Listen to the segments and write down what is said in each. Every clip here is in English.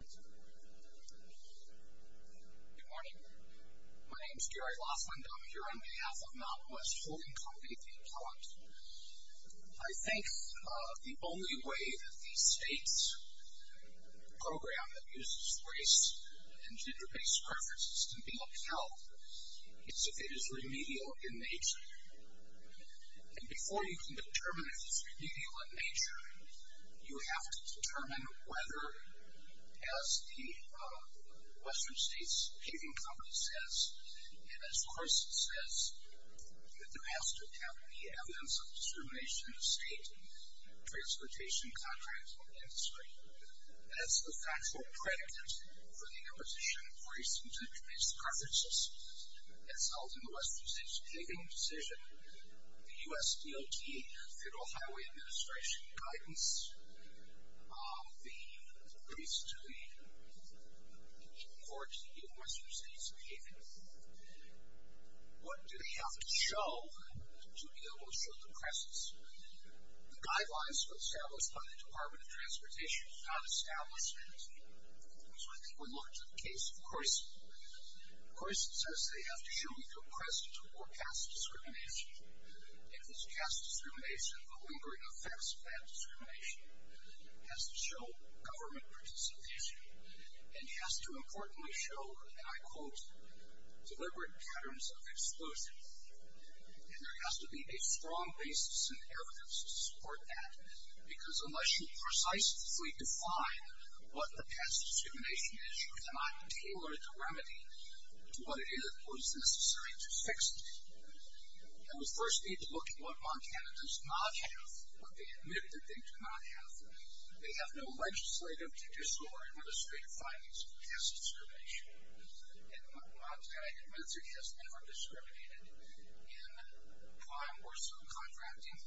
Good morning. My name is Gary Laughlin, and I'm here on behalf of Mountain West Holding Co. v. The Appellant. I think the only way that the state's program that uses race and gender-based preferences can be upheld is if it is remedial in nature. And before you can determine if it's remedial in nature, you have to determine whether, as the Western States Paving Company says, and as Carson says, that there has to have any evidence of discrimination in the state, transportation, contracts, or industry. As the factual predicate for the imposition of race and gender-based preferences that's held in the Western States Paving decision, the U.S. DOT, Federal Highway Administration, guides the police to the court in Western States Paving. What do they have to show to be able to show the presence? The guidelines were established by the Department of Transportation. It's not established. So I think we look to the case of Carson. Carson says they have to show either presence or cast discrimination. If it's cast discrimination, the lingering effects of that discrimination has to show government participation. And it has to importantly show, and I quote, deliberate patterns of exclusion. And there has to be a strong basis and evidence to support that, because unless you precisely define what the cast discrimination is, you cannot tailor the remedy to what it is that was necessary to fix it. And we first need to look at what Montana does not have, what they admit that they do not have. They have no legislative to disclose administrative findings of cast discrimination. And Montana admits it has never discriminated in prime or subcontracting.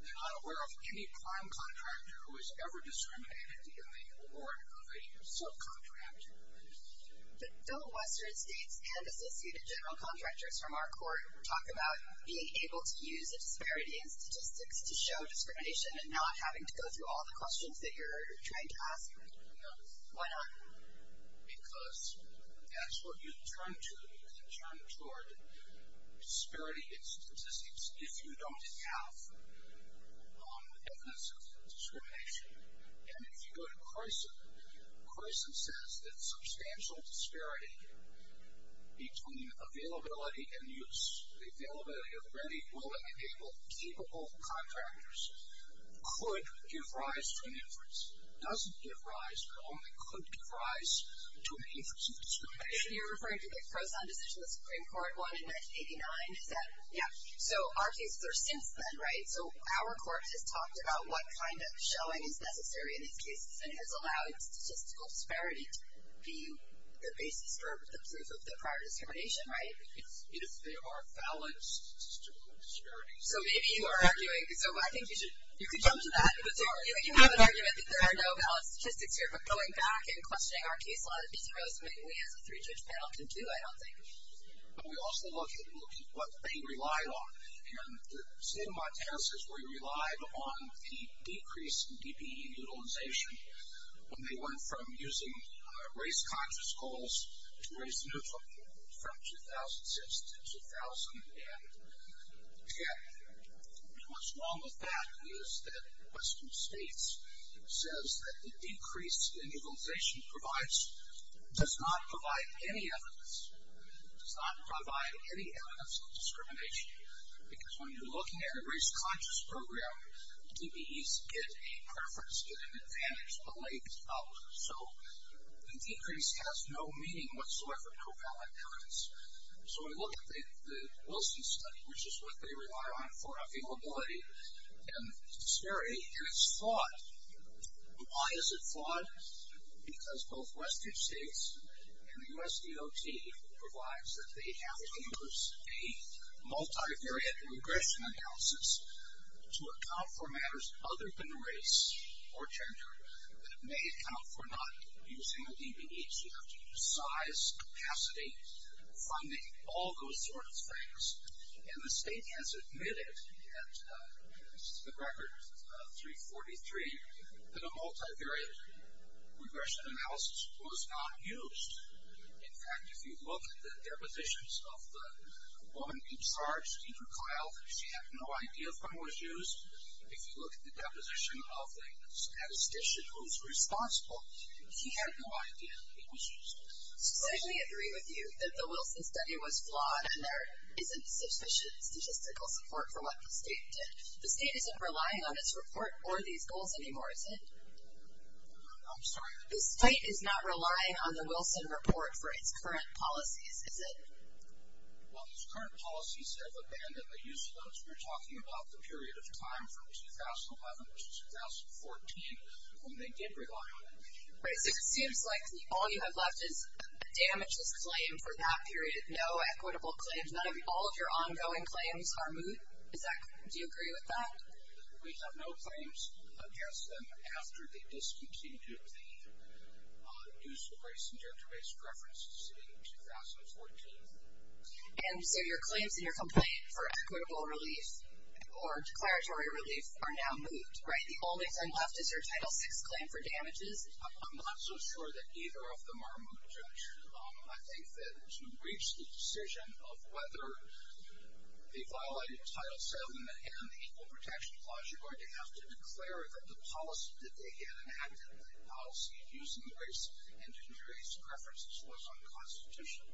They're not aware of any prime contractor who has ever discriminated in the award of a subcontractor. The federal Western States and associated general contractors from our court talk about being able to use a disparity in statistics to show discrimination and not having to go through all the questions that you're trying to ask. Why not? Because that's what you turn to when you turn toward disparity in statistics if you don't have evidence of discrimination. And if you go to Carson, Carson says that substantial disparity between availability and use, availability of ready, willing, capable contractors could give rise to an inference. Doesn't give rise, but only could give rise to an inference of discrimination. You're referring to the Carson decision the Supreme Court won in 1989? Is that? Yeah. So our cases are since then, right? So our court has talked about what kind of showing is necessary in these cases and has allowed statistical disparity to be the basis for the proof of the prior discrimination, right? If they are valid statistical disparities. So maybe you are arguing, so I think you could jump to that. You have an argument that there are no valid statistics here, but going back and questioning our case law, there's a lot of things we as a three-judge panel can do, I don't think. But we also look at what they relied on. And the state of Montana says we relied on the decrease in DPE utilization when they went from using race-conscious goals to race-neutral from 2006 to 2000. And, again, what's wrong with that is that western states says that the decrease in utilization provides, does not provide any evidence, does not provide any evidence of discrimination. Because when you're looking at a race-conscious program, DPEs get a preference, get an advantage, but lay this out. So the decrease has no meaning whatsoever, no valid evidence. So we look at the Wilson study, which is what they rely on for availability and disparity, and it's flawed. Why is it flawed? Because both western states and the U.S. DOT provides that they have to use a multivariate regression analysis to account for matters other than race or gender that may account for not using a DPE. So you have to use size, capacity, funding, all those sorts of things. And the state has admitted at the record 343 that a multivariate regression analysis was not used. In fact, if you look at the depositions of the woman in charge, Peter Kyle, she had no idea if one was used. If you look at the deposition of the statistician who's responsible, he had no idea it was used. So I can agree with you that the Wilson study was flawed and there isn't sufficient statistical support for what the state did. The state isn't relying on its report or these goals anymore, is it? I'm sorry? The state is not relying on the Wilson report for its current policies, is it? Well, its current policies have abandoned the use of those. We're talking about the period of time from 2011 to 2014 when they did rely on it. Right, so it seems like all you have left is a damageless claim for that period, no equitable claims, none of your ongoing claims are moot. Is that correct? Do you agree with that? We have no claims against them after they discontinued the use of race and gender-based preferences in 2014. And so your claims in your complaint for equitable relief or declaratory relief are now moot, right? The only thing left is your Title VI claim for damages. I'm not so sure that either of them are moot, Judge. I think that to reach the decision of whether the violated Title VII and the Equal Protection Clause you're going to have to declare that the policy that they had enacted, the policy of using race and gender-based preferences was unconstitutional.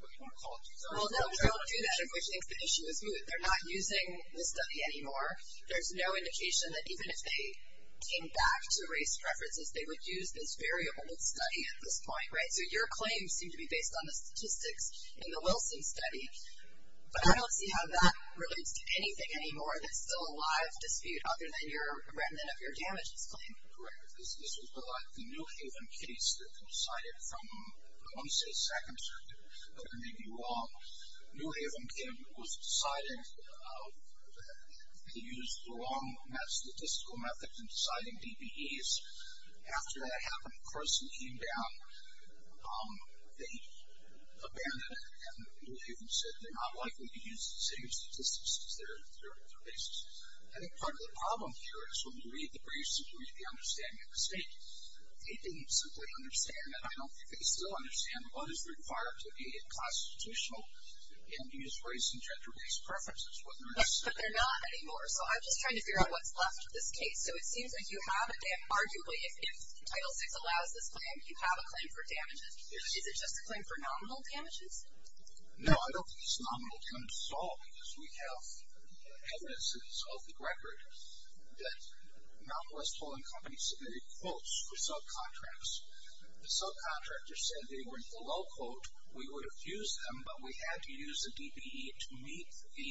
What do you want to call it? Well, no, we don't do that, in which case the issue is moot. They're not using the study anymore. There's no indication that even if they came back to race preferences, they would use this variable in study at this point, right? So your claims seem to be based on the statistics in the Wilson study, but I don't see how that relates to anything anymore that's still a live dispute, other than your remnant of your damages claim. Correct. This was the New Haven case that they decided from, I want to say Second Circuit, but I may be wrong. New Haven was deciding to use the wrong statistical method in deciding DBEs. After that happened, a person came down, they abandoned it, and New Haven said they're not likely to use the same statistics as their basis. I think part of the problem here is when you read the briefs and you read the understanding of the state, they didn't simply understand that. I don't think they still understand what is required to be constitutional and use race and gender-based preferences. But they're not anymore. So I'm just trying to figure out what's left of this case. So it seems like you have, arguably, if Title VI allows this claim, you have a claim for damages. Yes. Is it just a claim for nominal damages? No, I don't think it's nominal damages at all, because we have evidences of the record that non-West Poland companies submitted quotes for subcontracts. The subcontractor said they were in the low quote. We would have used them, but we had to use the DBE to meet the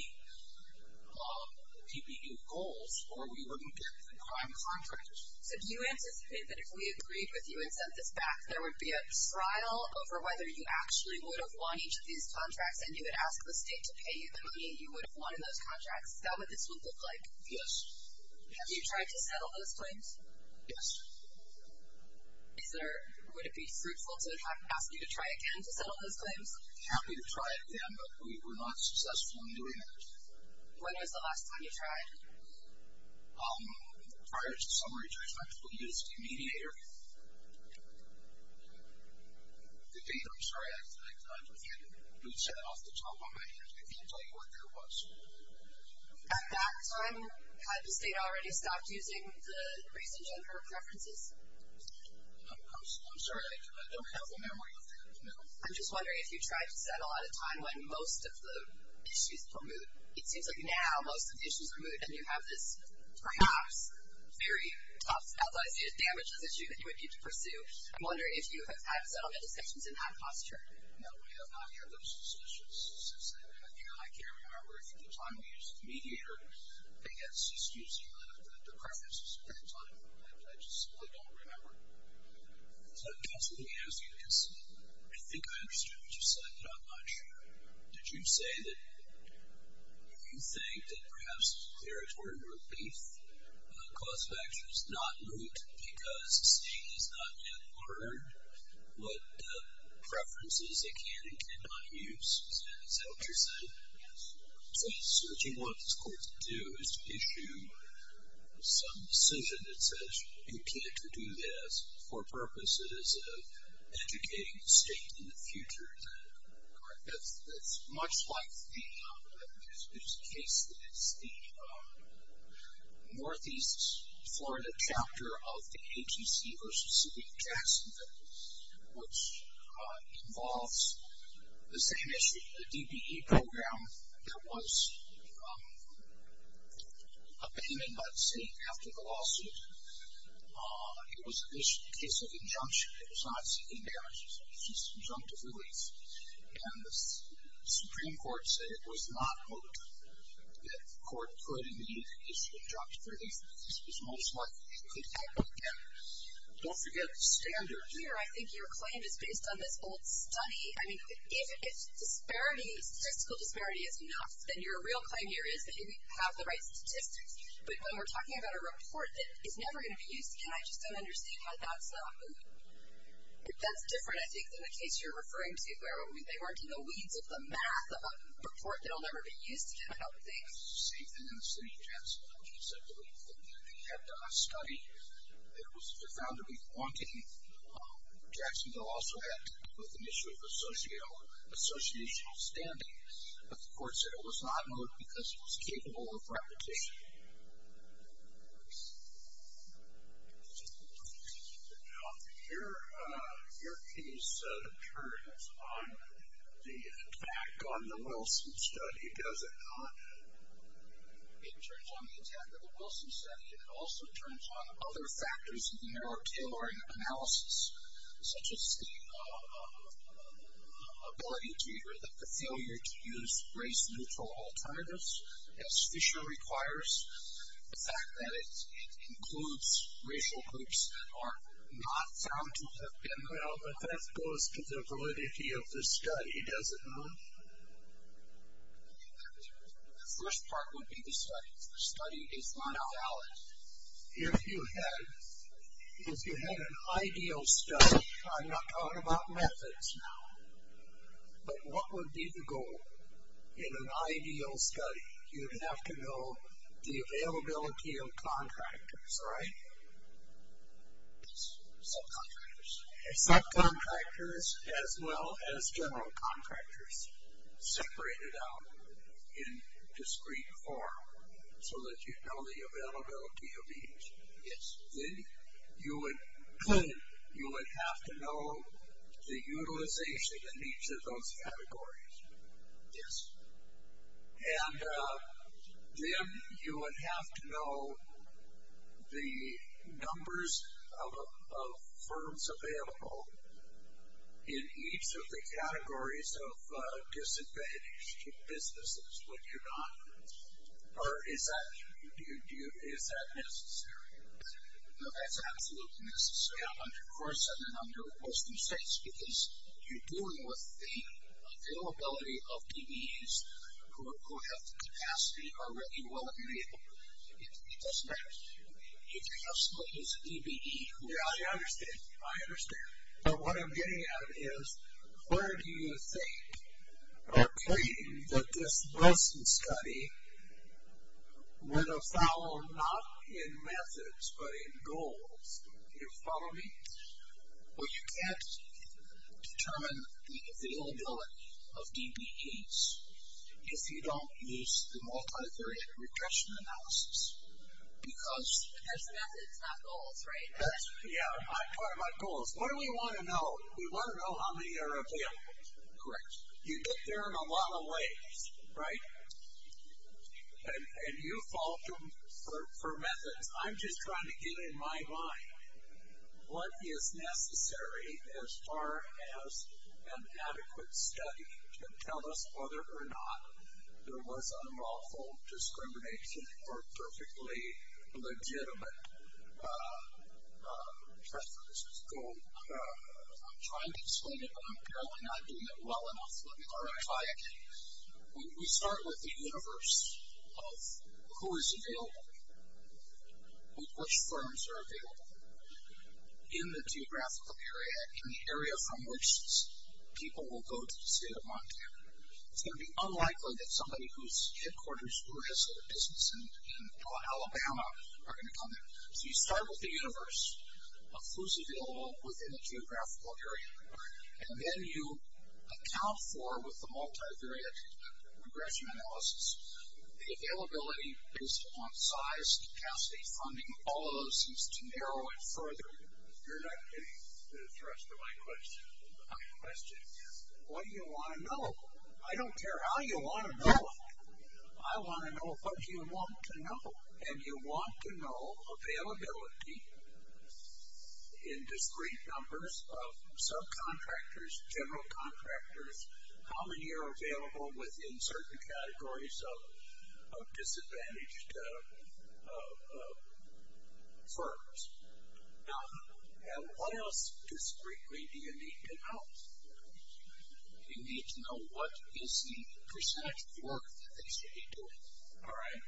DBE goals, or we wouldn't get the prime contract. So do you anticipate that if we agreed with you and sent this back, there would be a stridle over whether you actually would have won each of these contracts, and you would ask the state to pay you the money you would have won in those contracts? Is that what this would look like? Yes. Have you tried to settle those claims? Yes. Would it be fruitful to ask you to try again to settle those claims? Happy to try again, but we were not successful in doing that. When was the last time you tried? Prior to the summary judge, I believe it was the mediator. I'm sorry. I had a mood set off the top of my head. I can't tell you what that was. At that time, had the state already stopped using the recent gender preferences? I'm sorry. I don't have the memory of that, no. I'm just wondering if you tried to settle at a time when most of the issues were moot. It seems like now most of the issues are moot, and you have this perhaps very tough, although I see it as damageless issue that you would need to pursue. I'm wondering if you have had settlement discussions in that posture. No, we have not had those discussions since then. I can't remember if at the time we used the mediator, I guess just using the preferences at the time. I just really don't remember. Counsel, let me ask you this. I think I understood what you said, but I'm not sure. Did you say that you think that perhaps there is word of relief, cause of action is not moot because the state has not yet learned what preferences they can and cannot use? Is that what you're saying? Yes. So what you want this court to do is to issue some decision that says you can't do this for purposes of educating the state in the future. Is that correct? That's much like the case that is the northeast Florida chapter of the ATC versus the Jacksonville, which involves the same issue, the DBE program that was abandoned by the state after the lawsuit. It was a case of injunction. It was not seeking marriage. It was a case of injunctive relief. And the Supreme Court said it was not moot that the court could, indeed, issue injunctive relief. This was most likely. Don't forget the standards. Here, I think your claim is based on this old study. I mean, if statistical disparity is enough, then your real claim here is that you have the right statistics. But when we're talking about a report that is never going to be used again, I just don't understand why that's not moot. That's different, I think, than the case you're referring to, where they weren't in the weeds of the math of a report that will never be used again, I don't think. It's the same thing in the city of Jacksonville, which is a belief that they had done a study. It was found to be flaunting. Jacksonville also had an issue of associational standing. But the court said it was not moot because it was capable of repetition. Now, your case turns on the attack on the Wilson study, does it not? It turns on the attack of the Wilson study, and it also turns on other factors in the narrow tailoring analysis, such as the ability to or the failure to use race-neutral alternatives, as Fisher requires, the fact that it includes racial groups that are not found to have been there. Well, but that goes to the validity of the study, does it not? The first part would be the study. The study is not valid. If you had an ideal study, I'm not talking about methods now, but what would be the goal in an ideal study? You'd have to know the availability of contractors, right? Subcontractors. Subcontractors as well as general contractors separated out in discrete form so that you'd know the availability of each. Yes. Then you would have to know the utilization in each of those categories. Yes. And then you would have to know the numbers of firms available in each of the Is that necessary? No, that's absolutely necessary. Yeah. Of course, and then I'm going to post mistakes, because you're dealing with the availability of DBEs who have the capacity already. Well, if you're able to, it doesn't matter. If you have somebody who's a DBE who is. Yeah, I understand. I understand. But what I'm getting at is, where do you think or claim that this Blesen study would have followed, not in methods, but in goals? Do you follow me? Well, you can't determine the availability of DBEs if you don't use the multithreaded regression analysis, because... Because methods, not goals, right? Yeah, I'm talking about goals. What do we want to know? We want to know how many are available. Correct. You get there in a lot of ways, right? And you fault them for methods. I'm just trying to get in my mind what is necessary as far as an adequate study to tell us whether or not there was unlawful discrimination or perfectly legitimate preferences. I'm trying to explain it, but I'm apparently not doing it well enough. Let me clarify again. We start with the universe of who is available, which firms are available in the geographical area, in the area from which people will go to the state of Montana. It's going to be unlikely that somebody whose headquarters who has a business in Alabama are going to come in. So you start with the universe of who's available within a geographical area, and then you account for, with the multivariate regression analysis, the availability based upon size, capacity, funding, all of those things to narrow it further. You're not getting the thrust of my question. My question is, what do you want to know? I don't care how you want to know it. I want to know what you want to know. And you want to know availability in discrete numbers of subcontractors, general contractors, how many are available within certain categories of disadvantaged firms. And what else discretely do you need to know? You need to know what is the percentage of work that they should be doing. All right?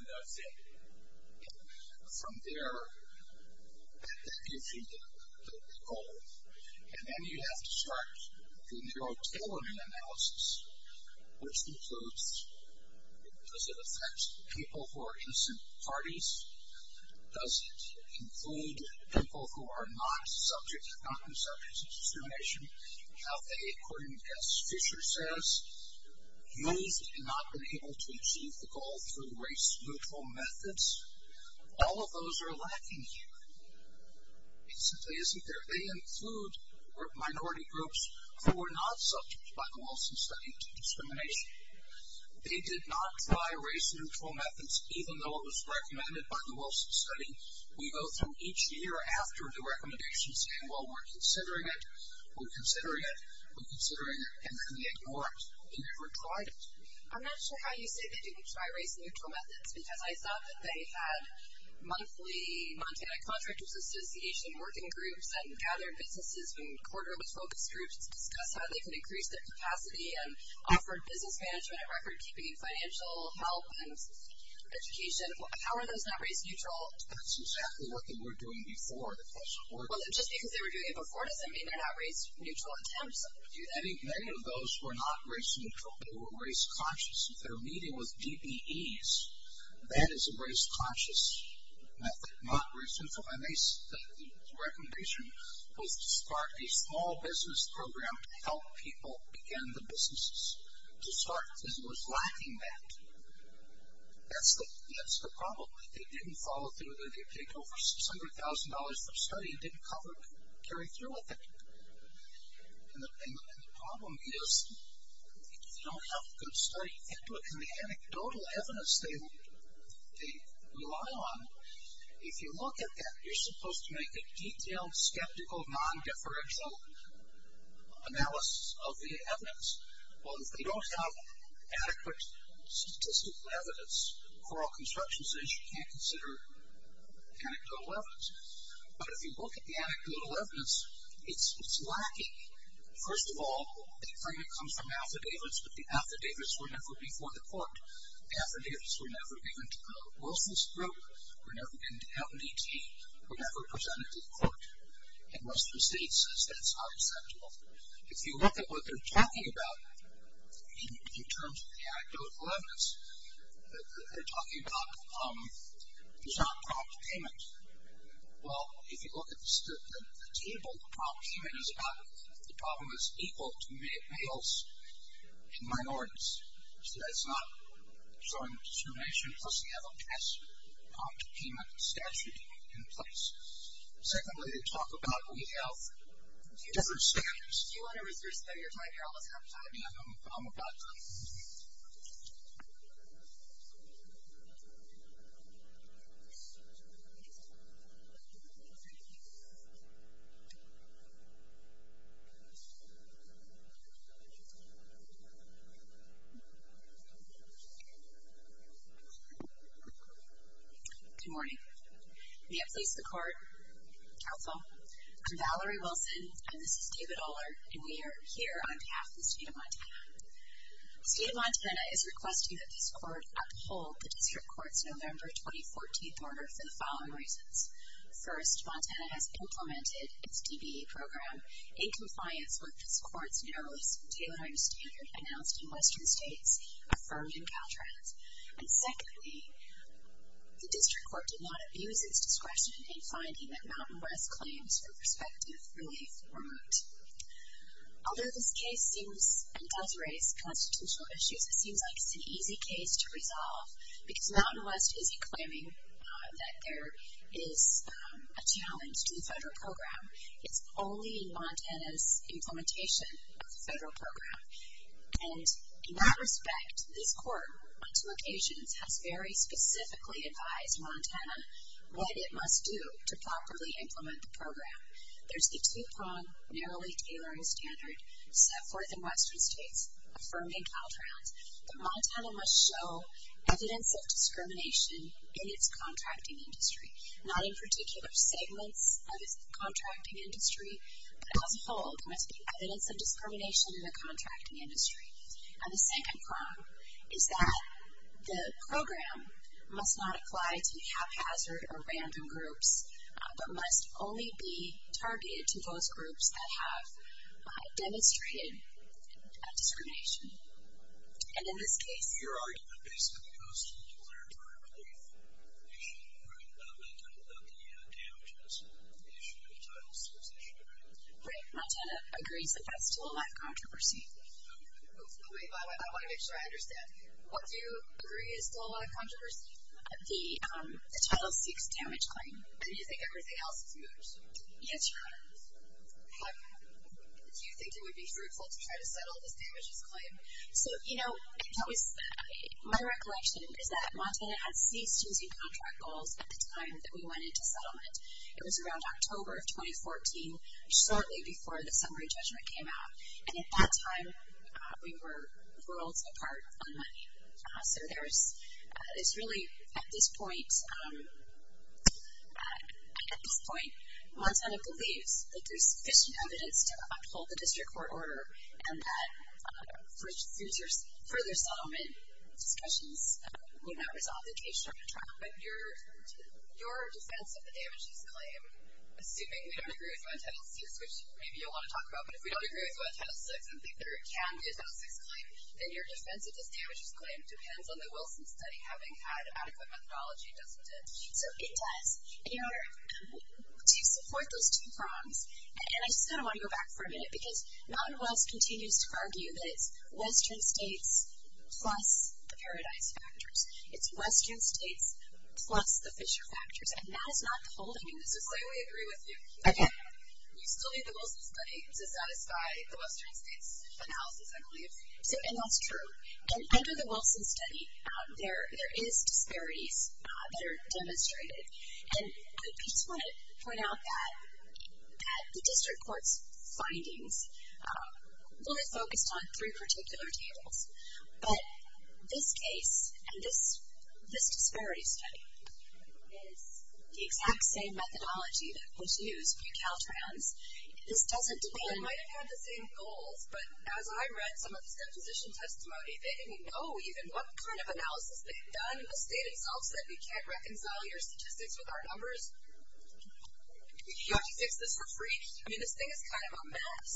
And that's it. From there, that gives you the goal. And then you have to start the neurotailoring analysis, which includes, does it affect people who are in some parties? Does it include people who are not subject, not in subject to discrimination? Have they, according to Jess Fisher says, used and not been able to achieve the goal through race-neutral methods? All of those are lacking here. It simply isn't there. They include minority groups who were not subject by the Wilson study to discrimination. They did not try race-neutral methods, even though it was recommended by the Wilson study. We go through each year after the recommendation saying, well, we're considering it, we're considering it, we're considering it, and then they ignore it. They never tried it. I'm not sure how you say they didn't try race-neutral methods, because I thought that they had monthly Montana Contractors Association working groups and gathered businesses and quarterless focus groups to discuss how they could increase their capacity and offered business management and record-keeping and financial help and education. How are those not race-neutral? That's exactly what they were doing before. Just because they were doing it before doesn't mean they're not race-neutral attempts to do that. Many of those who are not race-neutral, they were race-conscious. If they're meeting with DBEs, that is a race-conscious method, not race-neutral. The recommendation was to start a small business program to help people begin the businesses to start, and it was lacking that. That's the problem. They didn't follow through with it. They paid over $600,000 for a study and didn't carry through with it. And the problem is, if you don't have a good study, and the anecdotal evidence they rely on, if you look at that, you're supposed to make a detailed, skeptical, non-deferential analysis of the evidence. Well, if they don't have adequate statistical evidence for all constructions, then you can't consider anecdotal evidence. But if you look at the anecdotal evidence, it's lacking. First of all, they claim it comes from affidavits, but the affidavits were never before the court. Affidavits were never given to Wilson's group, were never given to MDT, were never presented to the court. And most of the state says that's not acceptable. If you look at what they're talking about in terms of the anecdotal evidence, they're talking about there's not prompt payment. Well, if you look at the table, the prompt payment is about if the problem is equal to males and minorities. So that's not showing discrimination, plus you have a prompt payment statute in place. Secondly, they talk about we have different standards. Do you want to reserve some of your time here? I'll move on. Good morning. May it please the Court. Counsel. I'm Valerie Wilson. And this is David Oller. And we are here on behalf of the state of Montana. The state of Montana is requesting that this court uphold the district court's November 2014 order for the following reasons. First, Montana has implemented its DBE program in compliance with this court's narrowest tailoring standard announced in Western states, affirmed in Caltrans. And secondly, the district court did not abuse its discretion in finding that Although this case seems and does raise constitutional issues, it seems like it's an easy case to resolve because Mountain West isn't claiming that there is a challenge to the federal program. It's only in Montana's implementation of the federal program. And in that respect, this court on two occasions has very specifically advised Montana what it must do to properly implement the program. There's the two-pronged narrowly tailoring standard set forth in Western states, affirmed in Caltrans, that Montana must show evidence of discrimination in its contracting industry. Not in particular segments of its contracting industry, but as a whole there must be evidence of discrimination in the contracting industry. And the second prong is that the program must not apply to haphazard or random groups, but must only be targeted to those groups that have demonstrated discrimination. And in this case... Your argument basically goes to the waterfront relief issue, right? I'm not talking about the damages. The issue of the title six issue, right? Right. Montana agrees that that's still a lot of controversy. Wait, I want to make sure I understand. What do you agree is still a lot of controversy? The title six damage claim. And you think everything else is moot? Yes, Your Honor. Do you think it would be fruitful to try to settle this damages claim? So, you know, my recollection is that Montana had ceased using contract goals at the time that we went into settlement. It was around October of 2014, shortly before the summary judgment came out, and at that time we were worlds apart on money. So there's really, at this point, Montana believes that there's sufficient evidence to uphold the district court order and that further settlement discussions may not resolve the case. But your defense of the damages claim, assuming we don't agree with what title six, which maybe you'll want to talk about, but if we don't agree with what title six and think there can be a title six claim, then your defense of this damages claim depends on the Wilson study having had adequate methodology, doesn't it? So it does. Your Honor, to support those two prongs, and I just kind of want to go back for a minute because Mountain Wells continues to argue that it's western states plus the Paradise factors. It's western states plus the Fisher factors, and that is not the whole thing. I mean, this is why we agree with you. Okay. You still need the Wilson study to satisfy the western states analysis, I believe. And that's true. And under the Wilson study, there is disparities that are demonstrated. And I just want to point out that the district court's findings were focused on three particular tables, but this case and this disparity study is the exact same methodology that was used for your Caltrans. This doesn't depend. They might have had the same goals, but as I read some of this deposition testimony, they didn't know even what kind of analysis they had done in the state itself so that we can't reconcile your statistics with our numbers. You want to fix this for free? I mean, this thing is kind of a mess.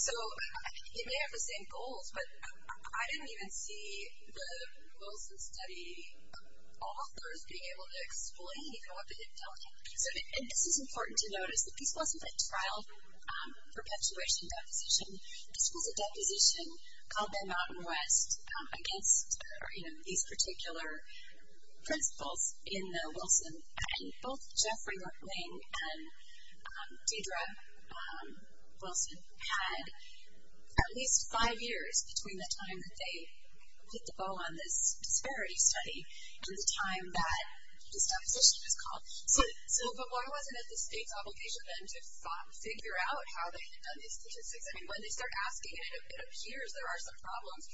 So it may have the same goals, but I didn't even see the Wilson study authors being able to explain what they had done. And this is important to notice. This wasn't a trial perpetuation deposition. This was a deposition called the Mountain West against these particular principles in the Wilson. And both Geoffrey McLean and Deidre Wilson had at least five years between the time that they hit the bow on this disparity study and the time that this deposition was called. So but why wasn't it the state's obligation then to figure out how they had done these statistics? I mean, when they start asking it, it appears there are some problems.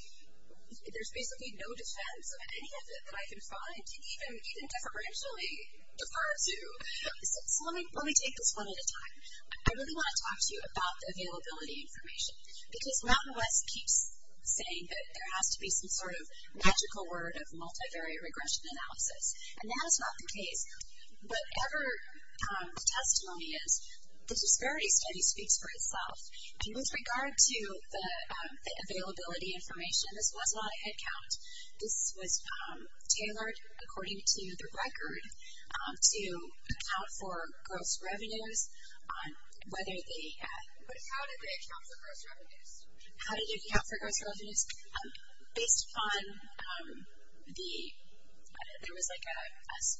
There's basically no defense of any of it that I can find to even deferentially defer to. So let me take this one at a time. I really want to talk to you about the availability information because Mountain West keeps saying that there has to be some sort of magical word of multivariate regression analysis, and that is not the case. Whatever the testimony is, the disparity study speaks for itself. With regard to the availability information, this was not a headcount. This was tailored according to the record to account for gross revenues, whether they had. But how did they account for gross revenues? How did they account for gross revenues? Based upon the, there was like a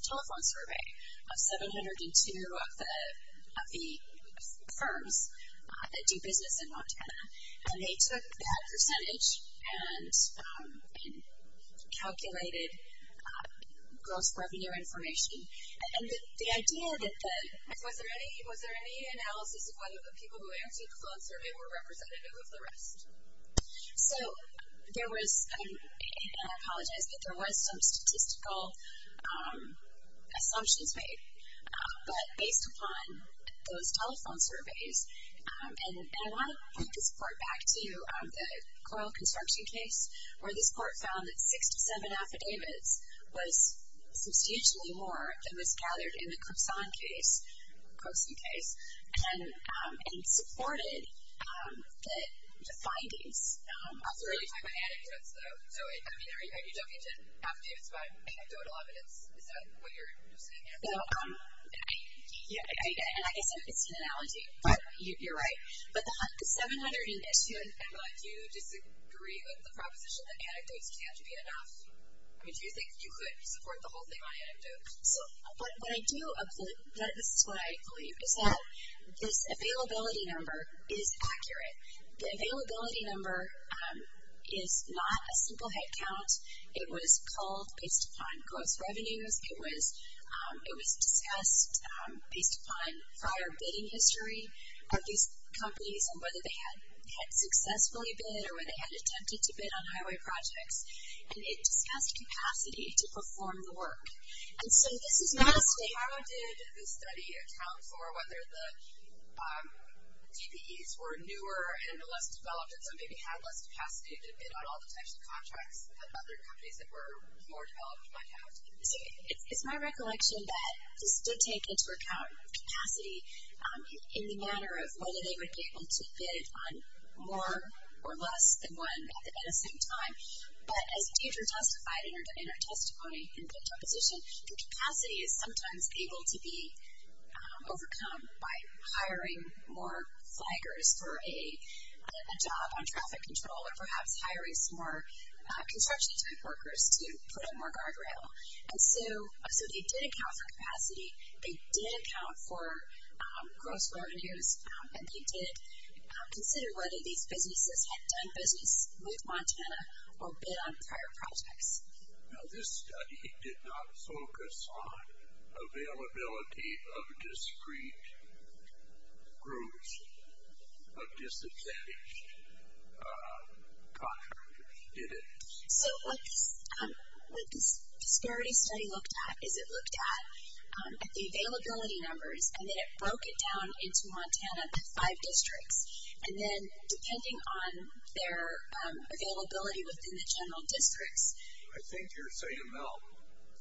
telephone survey of 702 of the firms that do business in Montana, and they took that percentage and calculated gross revenue information. And the idea that the, was there any analysis of whether the people who answered the phone survey were representative of the rest? So there was, and I apologize, but there was some statistical assumptions made. But based upon those telephone surveys, and I want to point this part back to the Coyle construction case where this court found that six to seven affidavits was substantially more than was gathered in the Kripson case, Kripson case, and supported the findings. I'll throw it to you. Are you talking about anecdotes though? So, I mean, are you talking to affidavits about anecdotal evidence? Is that what you're saying? No. And I guess it's an analogy. You're right. But the 702 issue. And do you disagree with the proposition that anecdotes can't be enough? I mean, do you think you could support the whole thing on anecdotes? So what I do, this is what I believe, is that this availability number is accurate. The availability number is not a simple headcount. It was called based upon gross revenues. It was discussed based upon prior bidding history of these companies and whether they had successfully bid or whether they had attempted to bid on highway projects. And it discussed capacity to perform the work. And so this is not a statement. How did this study account for whether the TPEs were newer and less developed and so maybe had less capacity to bid on all the types of contracts that other companies that were more developed might have? It's my recollection that this did take into account capacity in the manner of whether they would be able to bid on more or less than one at the same time. But as Deidre testified in her testimony in the deposition, the capacity is sometimes able to be overcome by hiring more flaggers for a job on traffic control or perhaps hiring some more construction type workers to put up more guardrail. And so they did account for capacity. They did account for gross revenues. And they did consider whether these businesses had done business with Montana or bid on prior projects. Now this study did not focus on availability of discrete groups of disadvantaged contractors, did it? So what this disparity study looked at is it looked at the availability numbers and then it broke it down into Montana, the five districts, and then depending on their availability within the general districts. I think you're saying no.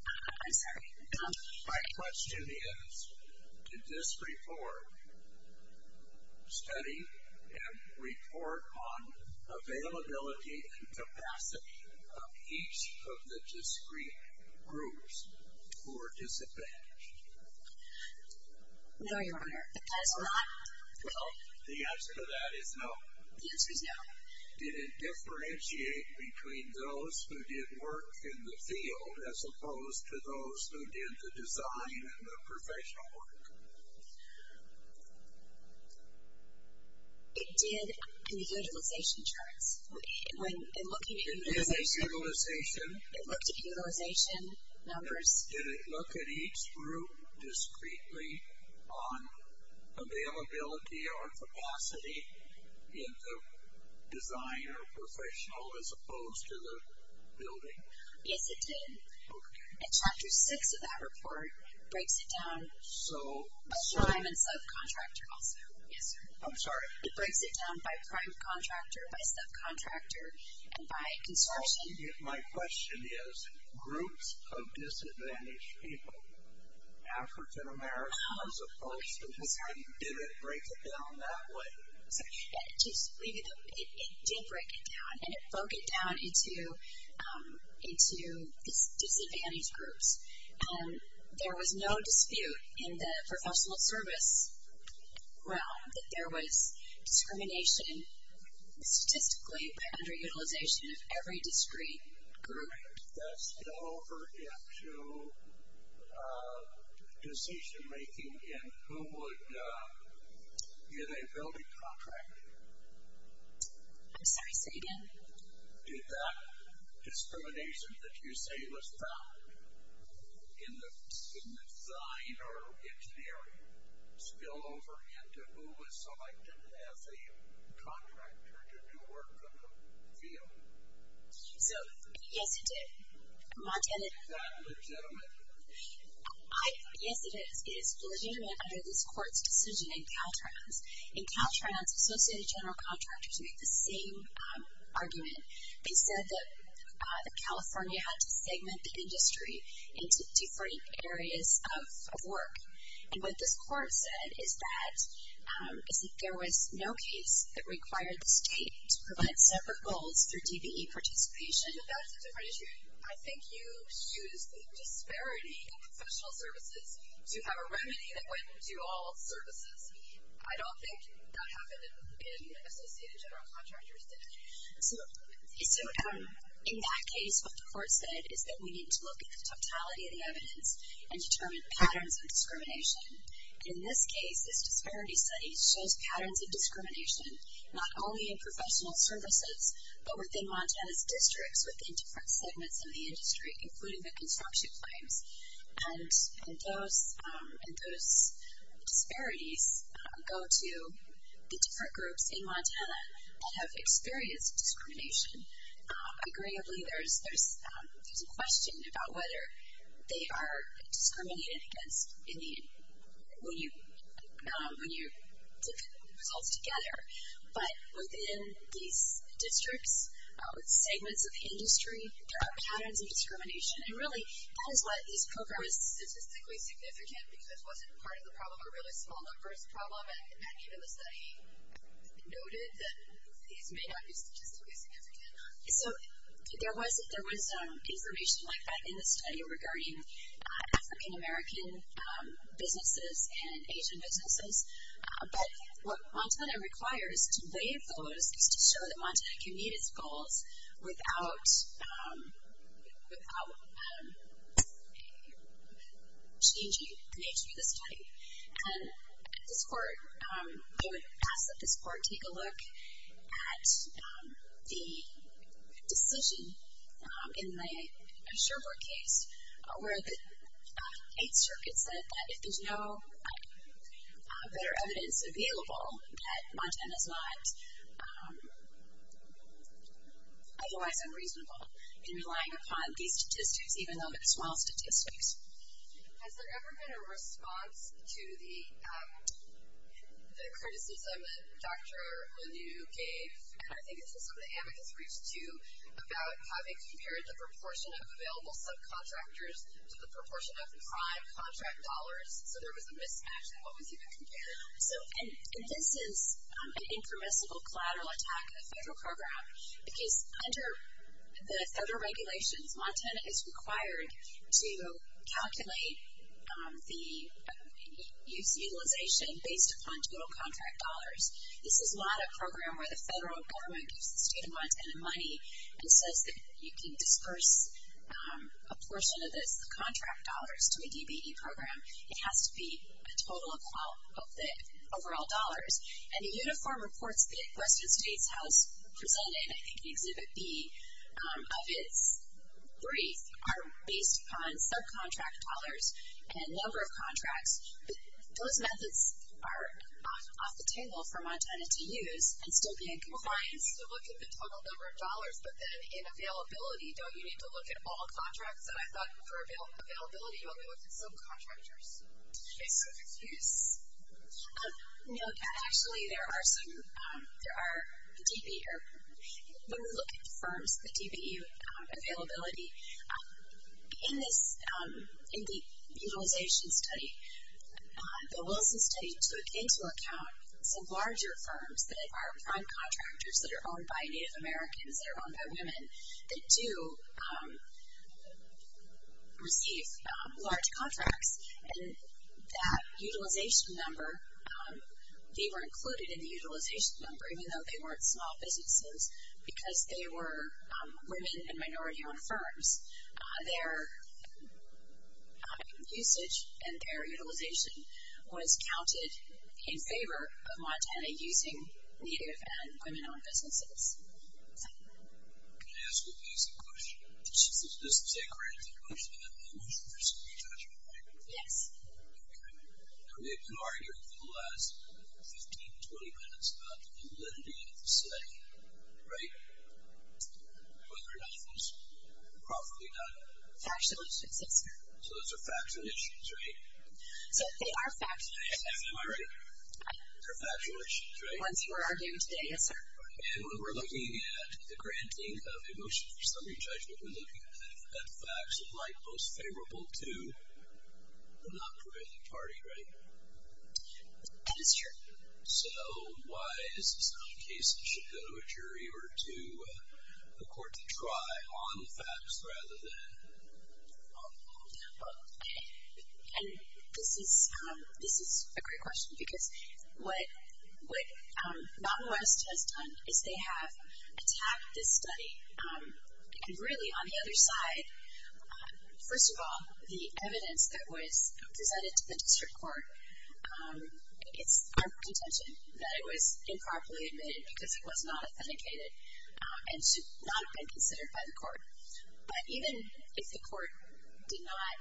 I'm sorry. My question is did this report study and report on availability and capacity of each of the discrete groups who are disadvantaged? No, Your Honor, it does not. Well, the answer to that is no. The answer is no. Did it differentiate between those who did work in the field as opposed to those who did the design and the professional work? It did in the utilization charts. In the utilization? It looked at utilization numbers. Did it look at each group discretely on availability or capacity in the design or professional as opposed to the building? Yes, it did. Okay. And Chapter 6 of that report breaks it down by prime and subcontractor also. Yes, sir. I'm sorry. It breaks it down by prime contractor, by subcontractor, and by construction. My question is groups of disadvantaged people, African-Americans as opposed to Hispanic, did it break it down that way? It did break it down, and it broke it down into disadvantaged groups. There was no dispute in the professional service realm that there was discrimination statistically by underutilization of every discrete group. That's over into decision-making in who would get a building contract. I'm sorry, say again. Did that discrimination that you say was found in the design or engineering spill over into who was selected as a contractor to do work on the field? Yes, it did. Is that legitimate? Yes, it is. It is legitimate under this court's decision in Caltrans. In Caltrans, Associated General Contractors make the same argument. They said that California had to segment the industry into different areas of work. And what this court said is that there was no case that required the state to provide separate goals through DBE participation. That's a different issue. I think you used the disparity in professional services to have a remedy that wouldn't do all services. I don't think that happened in Associated General Contractors, did it? So in that case, what the court said is that we need to look at the totality of the evidence and determine patterns of discrimination. In this case, this disparity study shows patterns of discrimination, not only in professional services, but within Montana's districts, within different segments of the industry, including the construction claims. And those disparities go to the different groups in Montana that have experienced discrimination. Agreeably, there's a question about whether they are discriminated against when you put the results together. But within these districts, with segments of the industry, there are patterns of discrimination. And really, that is why this program is statistically significant, because it wasn't part of the problem, a really small numbers problem, and then even the study noted that these may not be statistically significant. So there was information like that in the study regarding African-American businesses and Asian businesses. But what Montana requires to waive those is to show that Montana can meet its goals without changing the nature of the study. And this court, I would ask that this court take a look at the decision in the Sherbrooke case where the Eighth Circuit said that if there's no better otherwise unreasonable in relying upon these statistics, even though it's small statistics. Has there ever been a response to the criticism that Dr. Lanoue gave, and I think this is what the amicus reached to, about how they compared the proportion of available subcontractors to the proportion of prime contract dollars. So there was a mismatch in what was even compared. And this is an impermissible collateral attack of the federal program, because under the federal regulations, Montana is required to calculate the use utilization based upon total contract dollars. This is not a program where the federal government gives the state of Montana money and says that you can disperse a portion of this contract dollars to a DBE program. It has to be a total of the overall dollars. And the uniform reports that the Western States House presented, I think Exhibit B of its brief, are based upon subcontract dollars and number of contracts. Those methods are off the table for Montana to use and still be in compliance to look at the total number of dollars. But then in availability, don't you need to look at all contracts? And I thought for availability, don't we look at subcontractors? Okay, so excuse. No, actually there are some. There are DBE. When we look at the firms, the DBE availability, in the utilization study, the Wilson study took into account some larger firms that are prime contractors that are owned by Native Americans, that are owned by women, that do receive large contracts. And that utilization number, they were included in the utilization number, even though they weren't small businesses, because they were women and minority-owned firms. Their usage and their utilization was counted in favor of Montana using Native and women-owned businesses. Can I ask you a basic question? This is a granted question, but I'm not sure there's any judgment there. Yes. Okay. Now we've been arguing for the last 15, 20 minutes about the validity of the study, right? Whether or not it was properly done. Factual issues, yes, sir. So those are factual issues, right? So they are factual issues. Am I right? They're factual issues, right? The ones we're arguing today, yes, sir. And when we're looking at the granting of a motion for summary judgment, we're looking at facts that lie most favorable to the non-probative party, right? That is true. So why is this not a case that should go to a jury or to a court to try on facts rather than on that? And this is a great question, because what Mountain West has done is they have attacked this study. And really, on the other side, first of all, the evidence that was presented to the district court, it's our contention that it was improperly admitted because it was not authenticated and should not have been considered by the court. But even if the court did not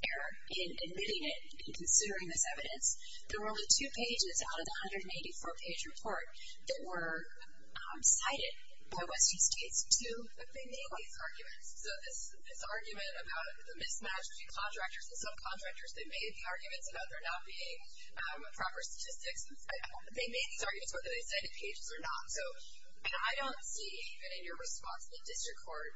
err in admitting it and considering this evidence, there were only two pages out of the 184-page report that were cited by Western states to defend these arguments. So this argument about the mismatch between contractors and subcontractors, they made the arguments about there not being proper statistics. They made these arguments whether they cited pages or not. And I don't see, even in your response, the district court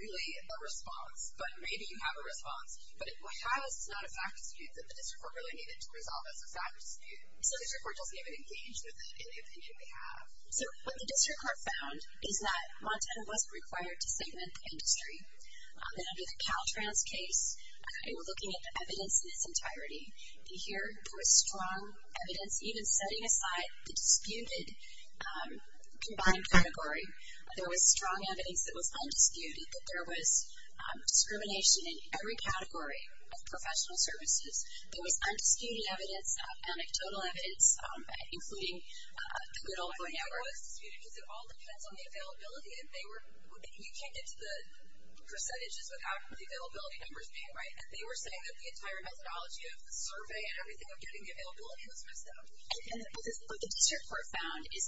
really a response. But maybe you have a response. But it has not a fact dispute that the district court really needed to resolve. That's a fact dispute. The district court doesn't even engage with it in the opinion we have. So what the district court found is that Montana West required to segment the industry. And under the Caltrans case, kind of looking at the evidence in its entirety, you hear there was strong evidence, even setting aside the disputed combined category, there was strong evidence that was undisputed, that there was discrimination in every category of professional services. There was undisputed evidence, anecdotal evidence, including the good old voice numbers. I think it was disputed because it all depends on the availability. And you can't get to the percentages without the availability numbers being right. And they were saying that the entire methodology of the survey and everything of getting the availability was messed up. And what the district court found is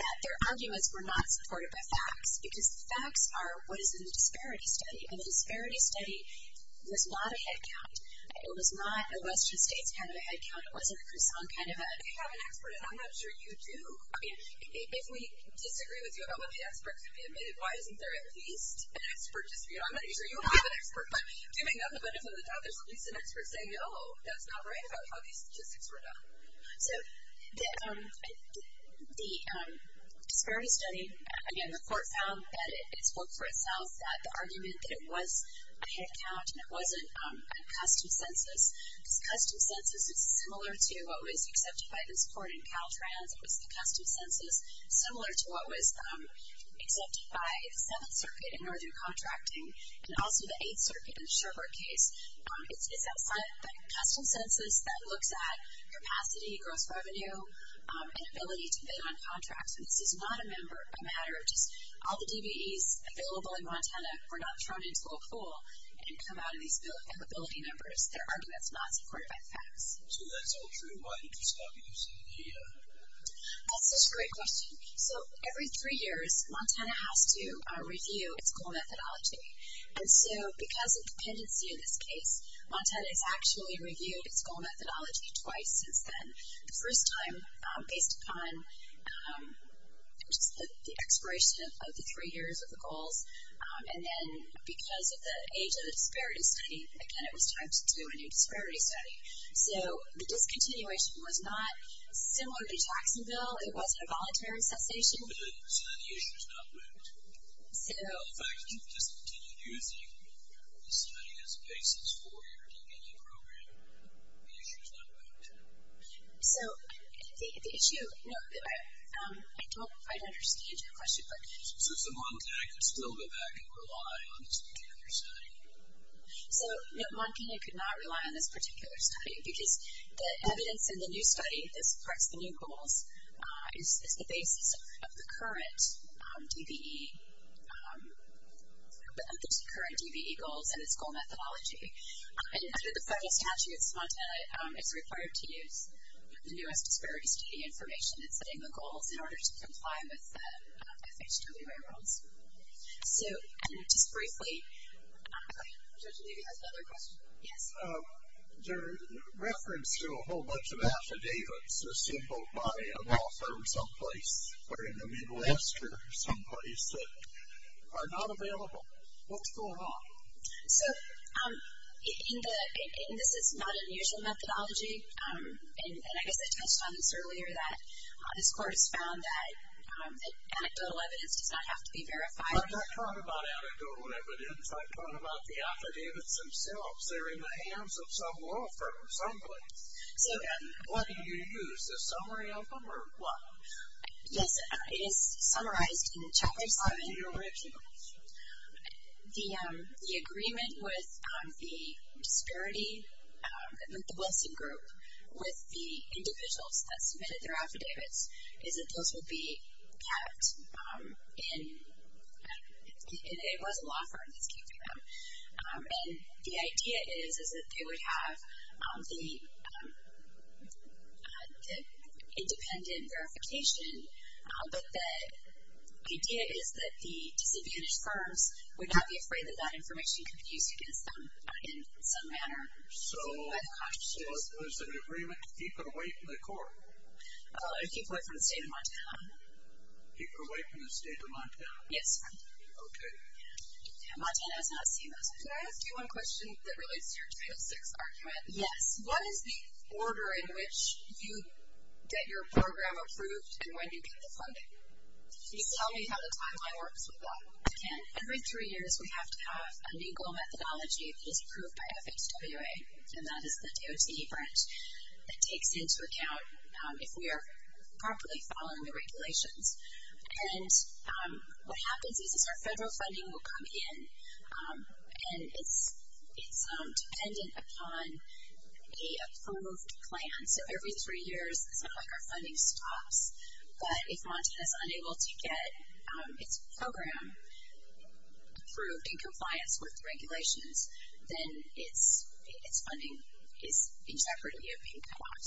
that their arguments were not supported by facts. Because facts are what is in the disparity study. And the disparity study was not a head count. It was not a western states kind of a head count. It wasn't a croissant kind of a head count. I have an expert, and I'm not sure you do. I mean, if we disagree with you about what the experts have admitted, why isn't there at least an expert dispute? I'm not sure you have an expert. But giving up the benefit of the doubt, there's at least an expert saying, oh, that's not right about how these statistics were done. So the disparity study, again, the court found that it spoke for itself, that the argument that it was a head count and it wasn't a custom census. Because custom census is similar to what was accepted by this court in Caltrans. It was the custom census, similar to what was accepted by the Seventh Circuit in northern contracting, and also the Eighth Circuit in the Sherbrooke case. It's that custom census that looks at capacity, gross revenue, and ability to bid on contracts. And this is not a matter of just all the DBEs available in Montana were not thrown into a pool and come out of these bill of liability numbers. Their argument is not supported by the facts. So that's all true. Why did you stop using the head count? That's such a great question. So every three years, Montana has to review its goal methodology. And so because of dependency in this case, Montana has actually reviewed its goal methodology twice since then. The first time based upon just the expiration of the three years of the goals. And then because of the age of the disparity study, again, it was time to do a new disparity study. So the discontinuation was not similar to Jacksonville. It wasn't a voluntary cessation. So then the issue is not moved. So the fact that you've discontinued using the study as a basis for your DBE program, the issue is not moved. So the issue, no, I don't quite understand your question. But since the Montana could still go back and rely on this particular study. So, no, Montana could not rely on this particular study because the evidence in the new study that supports the new goals is the basis of the current DBE goals and its goal methodology. And under the federal statute, Montana is required to use the newest disparity study information in setting the goals in order to comply with the FHWA rules. So just briefly. Judge Levy has another question. Yes. Your reference to a whole bunch of affidavits assembled by an author someplace where in the Midwest or someplace that are not available. What's going on? So in the, and this is not an usual methodology. And I guess I touched on this earlier that this court has found that anecdotal evidence does not have to be verified. I'm not talking about anecdotal evidence. I'm talking about the affidavits themselves. They're in the hands of some law firm someplace. And what do you use, the summary of them or what? Yes, it is summarized in the chapter 7. The originals. The agreement with the disparity, with the Wilson Group, with the individuals that submitted their affidavits is that those will be kept in, it was a law firm that's keeping them. And the idea is that they would have the independent verification. But the idea is that the disadvantaged firms would not be afraid that that information could be used against them in some manner. So was there an agreement to keep it away from the court? Keep it away from the state of Montana. Keep it away from the state of Montana? Yes, sir. Okay. Montana has not seen those. Can I ask you one question that relates to your Title VI argument? Yes. What is the order in which you get your program approved and when you get the funding? Can you tell me how the timeline works with that? Again, every three years we have to have a legal methodology that is approved by FHWA, and that is the DOT branch that takes into account if we are properly following the regulations. And what happens is our federal funding will come in, and it's dependent upon the approved plan. So every three years it's not like our funding stops. But if Montana is unable to get its program approved in compliance with the regulations, then its funding is in jeopardy of being cut off.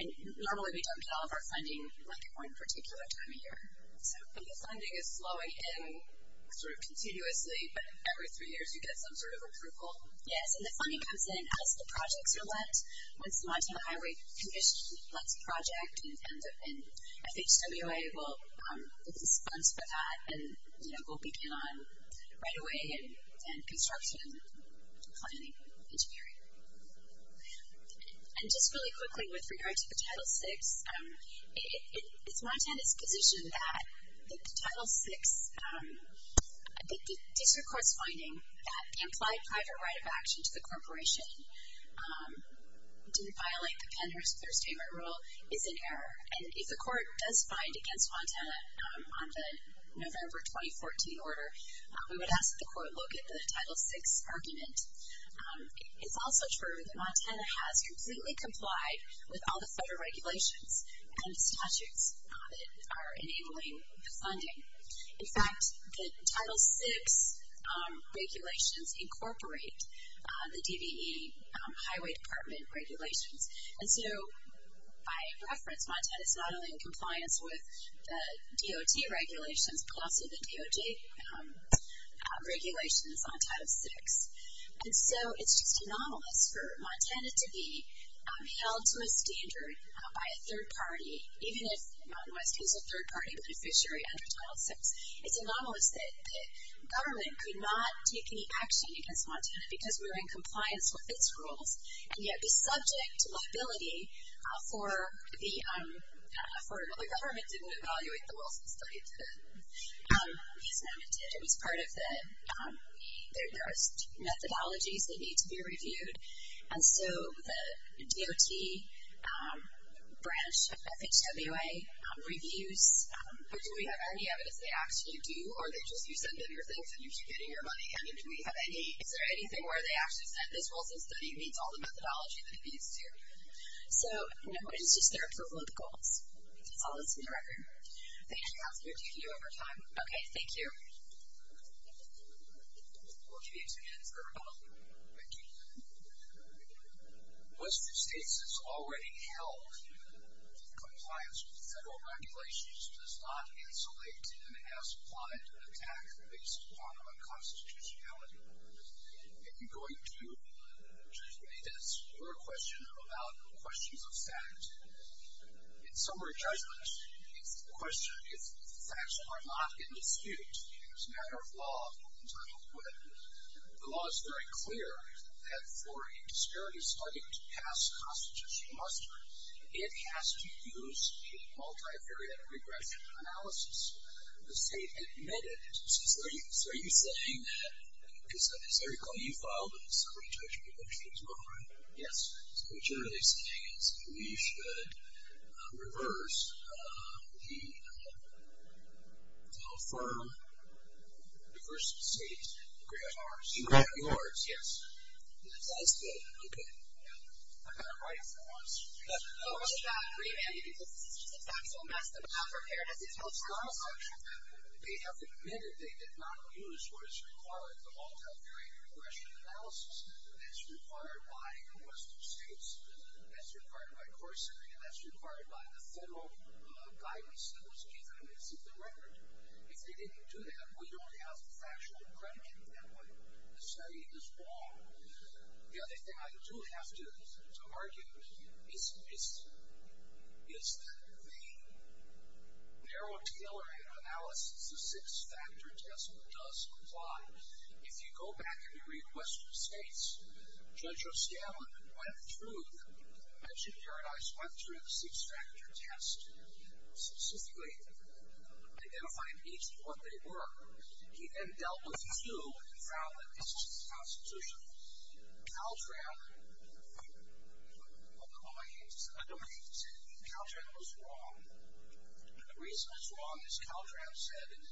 Normally we don't get all of our funding at one particular time of year. But the funding is flowing in sort of continuously, but every three years you get some sort of approval? Yes, and the funding comes in as the projects are let. Once the Montana Highway Commission lets a project, FHWA will respond to that and we'll begin on right-of-way and construction, planning, engineering. And just really quickly with regard to the Title VI, it's Montana's position that the Title VI, the district court's finding that the implied private right of action to the corporation to violate the Pennhurst Clear Statement Rule is in error. And if the court does find against Montana on the November 2014 order, we would ask that the court look at the Title VI argument. It's also true that Montana has completely complied with all the federal regulations and the statutes that are enabling the funding. In fact, the Title VI regulations incorporate the DBE Highway Department regulations. And so by reference, Montana is not only in compliance with the DOT regulations, but also the DOJ regulations on Title VI. And so it's just anomalous for Montana to be held to a standard by a third party, even if Mountain West is a third party beneficiary under Title VI. It's anomalous that the government could not take any action against Montana because we're in compliance with its rules, and yet be subject to liability for the government that didn't evaluate the Wilson study today. As Mountain did, it was part of the methodologies that need to be reviewed. And so the DOT branch, FHWA, reviews, do we have any evidence they actually do, or do you just send them your things and you keep getting your money? And is there anything where they actually said this Wilson study meets all the methodology that it needs to? So, no, it's just their approval of the goals. That's all that's in the record. Thank you. That's good. You can do overtime. Okay, thank you. We'll give you two minutes for rebuttal. Thank you. Western states has already held compliance with federal regulations does not insulate and has plotted an attack based upon unconstitutionality. Are you going to judge me for a question about questions of fact? In summary judgment, the question is facts are not in dispute. It's a matter of law, as I put it. The law is very clear that for a disparity study to pass the Constitution muster, it has to use a multivariate regression analysis. The state admitted. So, are you saying that because, as I recall, you filed a summary judgment motion as well, right? Yes. So, what you're really saying is we should reverse the firm, reverse the state, and grab ours. Yes. That's good. Okay. I've got it right for us. So, what about remanding because it's not so messed up. It's not such that they have admitted they did not use what is required, the multivariate regression analysis that's required by the Western states, that's required by Corsica, and that's required by the federal guidance that was given in the 6th Amendment. If they didn't do that, we don't have factual accreditation that way. The study is wrong. The other thing I do have to argue is that the narrow tailoring analysis, the six-factor test, does apply. If you go back and you read Western states, Judge O'Scalla went through, mentioned Paradise, went through a six-factor test, specifically identifying each of what they were. He then dealt with two and found that this was constitutional. Caltran acquiesced. Caltran was wrong. The reason it's wrong, as Caltran said, and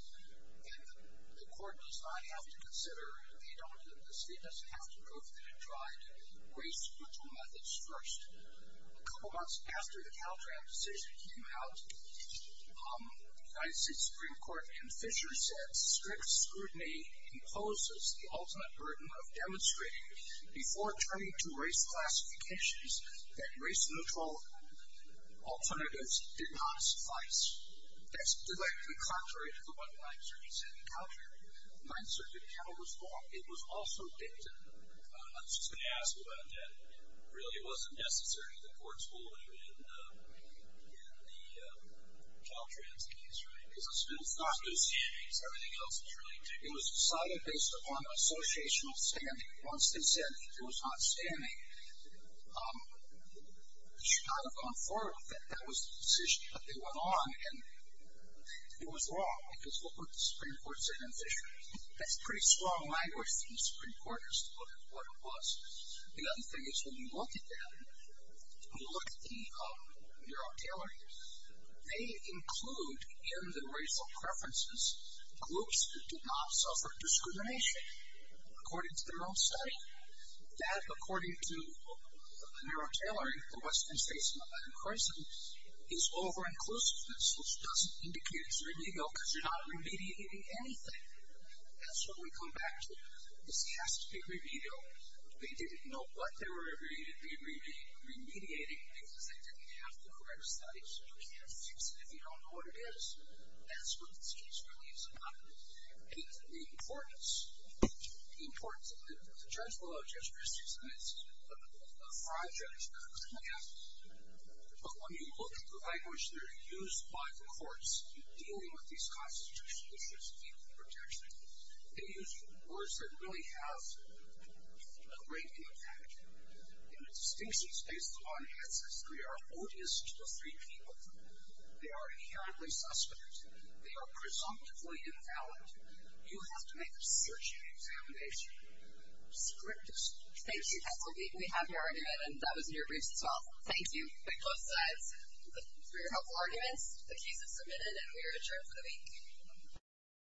the court does not have to consider they don't admit this, they just have to prove that they tried race-critical methods first. A couple months after the Caltran decision came out, the United States Supreme Court in Fisher said, strict scrutiny imposes the ultimate burden of demonstrating, before turning to race classifications, that race-neutral alternatives did not suffice. That's directly contrary to what the Ninth Circuit said. The Ninth Circuit panel was wrong. It was also dictative. I'm just going to ask about that. It really wasn't necessary. The court's ruling in the Caltran's case, right? It was decided based upon associational standing. Once they said it was not standing, they should not have gone forward with it. That was the decision that they went on, and it was wrong because what the Supreme Court said in Fisher, that's pretty strong language from the Supreme Court as to what it was. The other thing is, when you look at them, when you look at the NeuroTailoring, they include in the racial preferences, groups that did not suffer discrimination, according to their own study. That, according to NeuroTailoring, the Western States and the Latin Crescent, is over-inclusiveness, which doesn't indicate it's illegal, because you're not remediating anything. That's what we come back to. This has to be remedial. They didn't know what they were remediating because they didn't have the correct study, so you can't fix it if you don't know what it is. That's what this case really is about. The importance of it, the judge will have just criticized a project, but when you look at the language that are used by the courts in dealing with these constitutional issues of equal protection, they use words that really have a great impact. In the distinctions based upon access, they are odious to the free people. They are inherently suspect. They are presumptively invalid. You have to make a search and examination. Script is script. Thank you. We have your argument, and that was in your briefs as well. Thank you. Both sides, for your helpful arguments, the case is submitted, and we are adjourned for the week.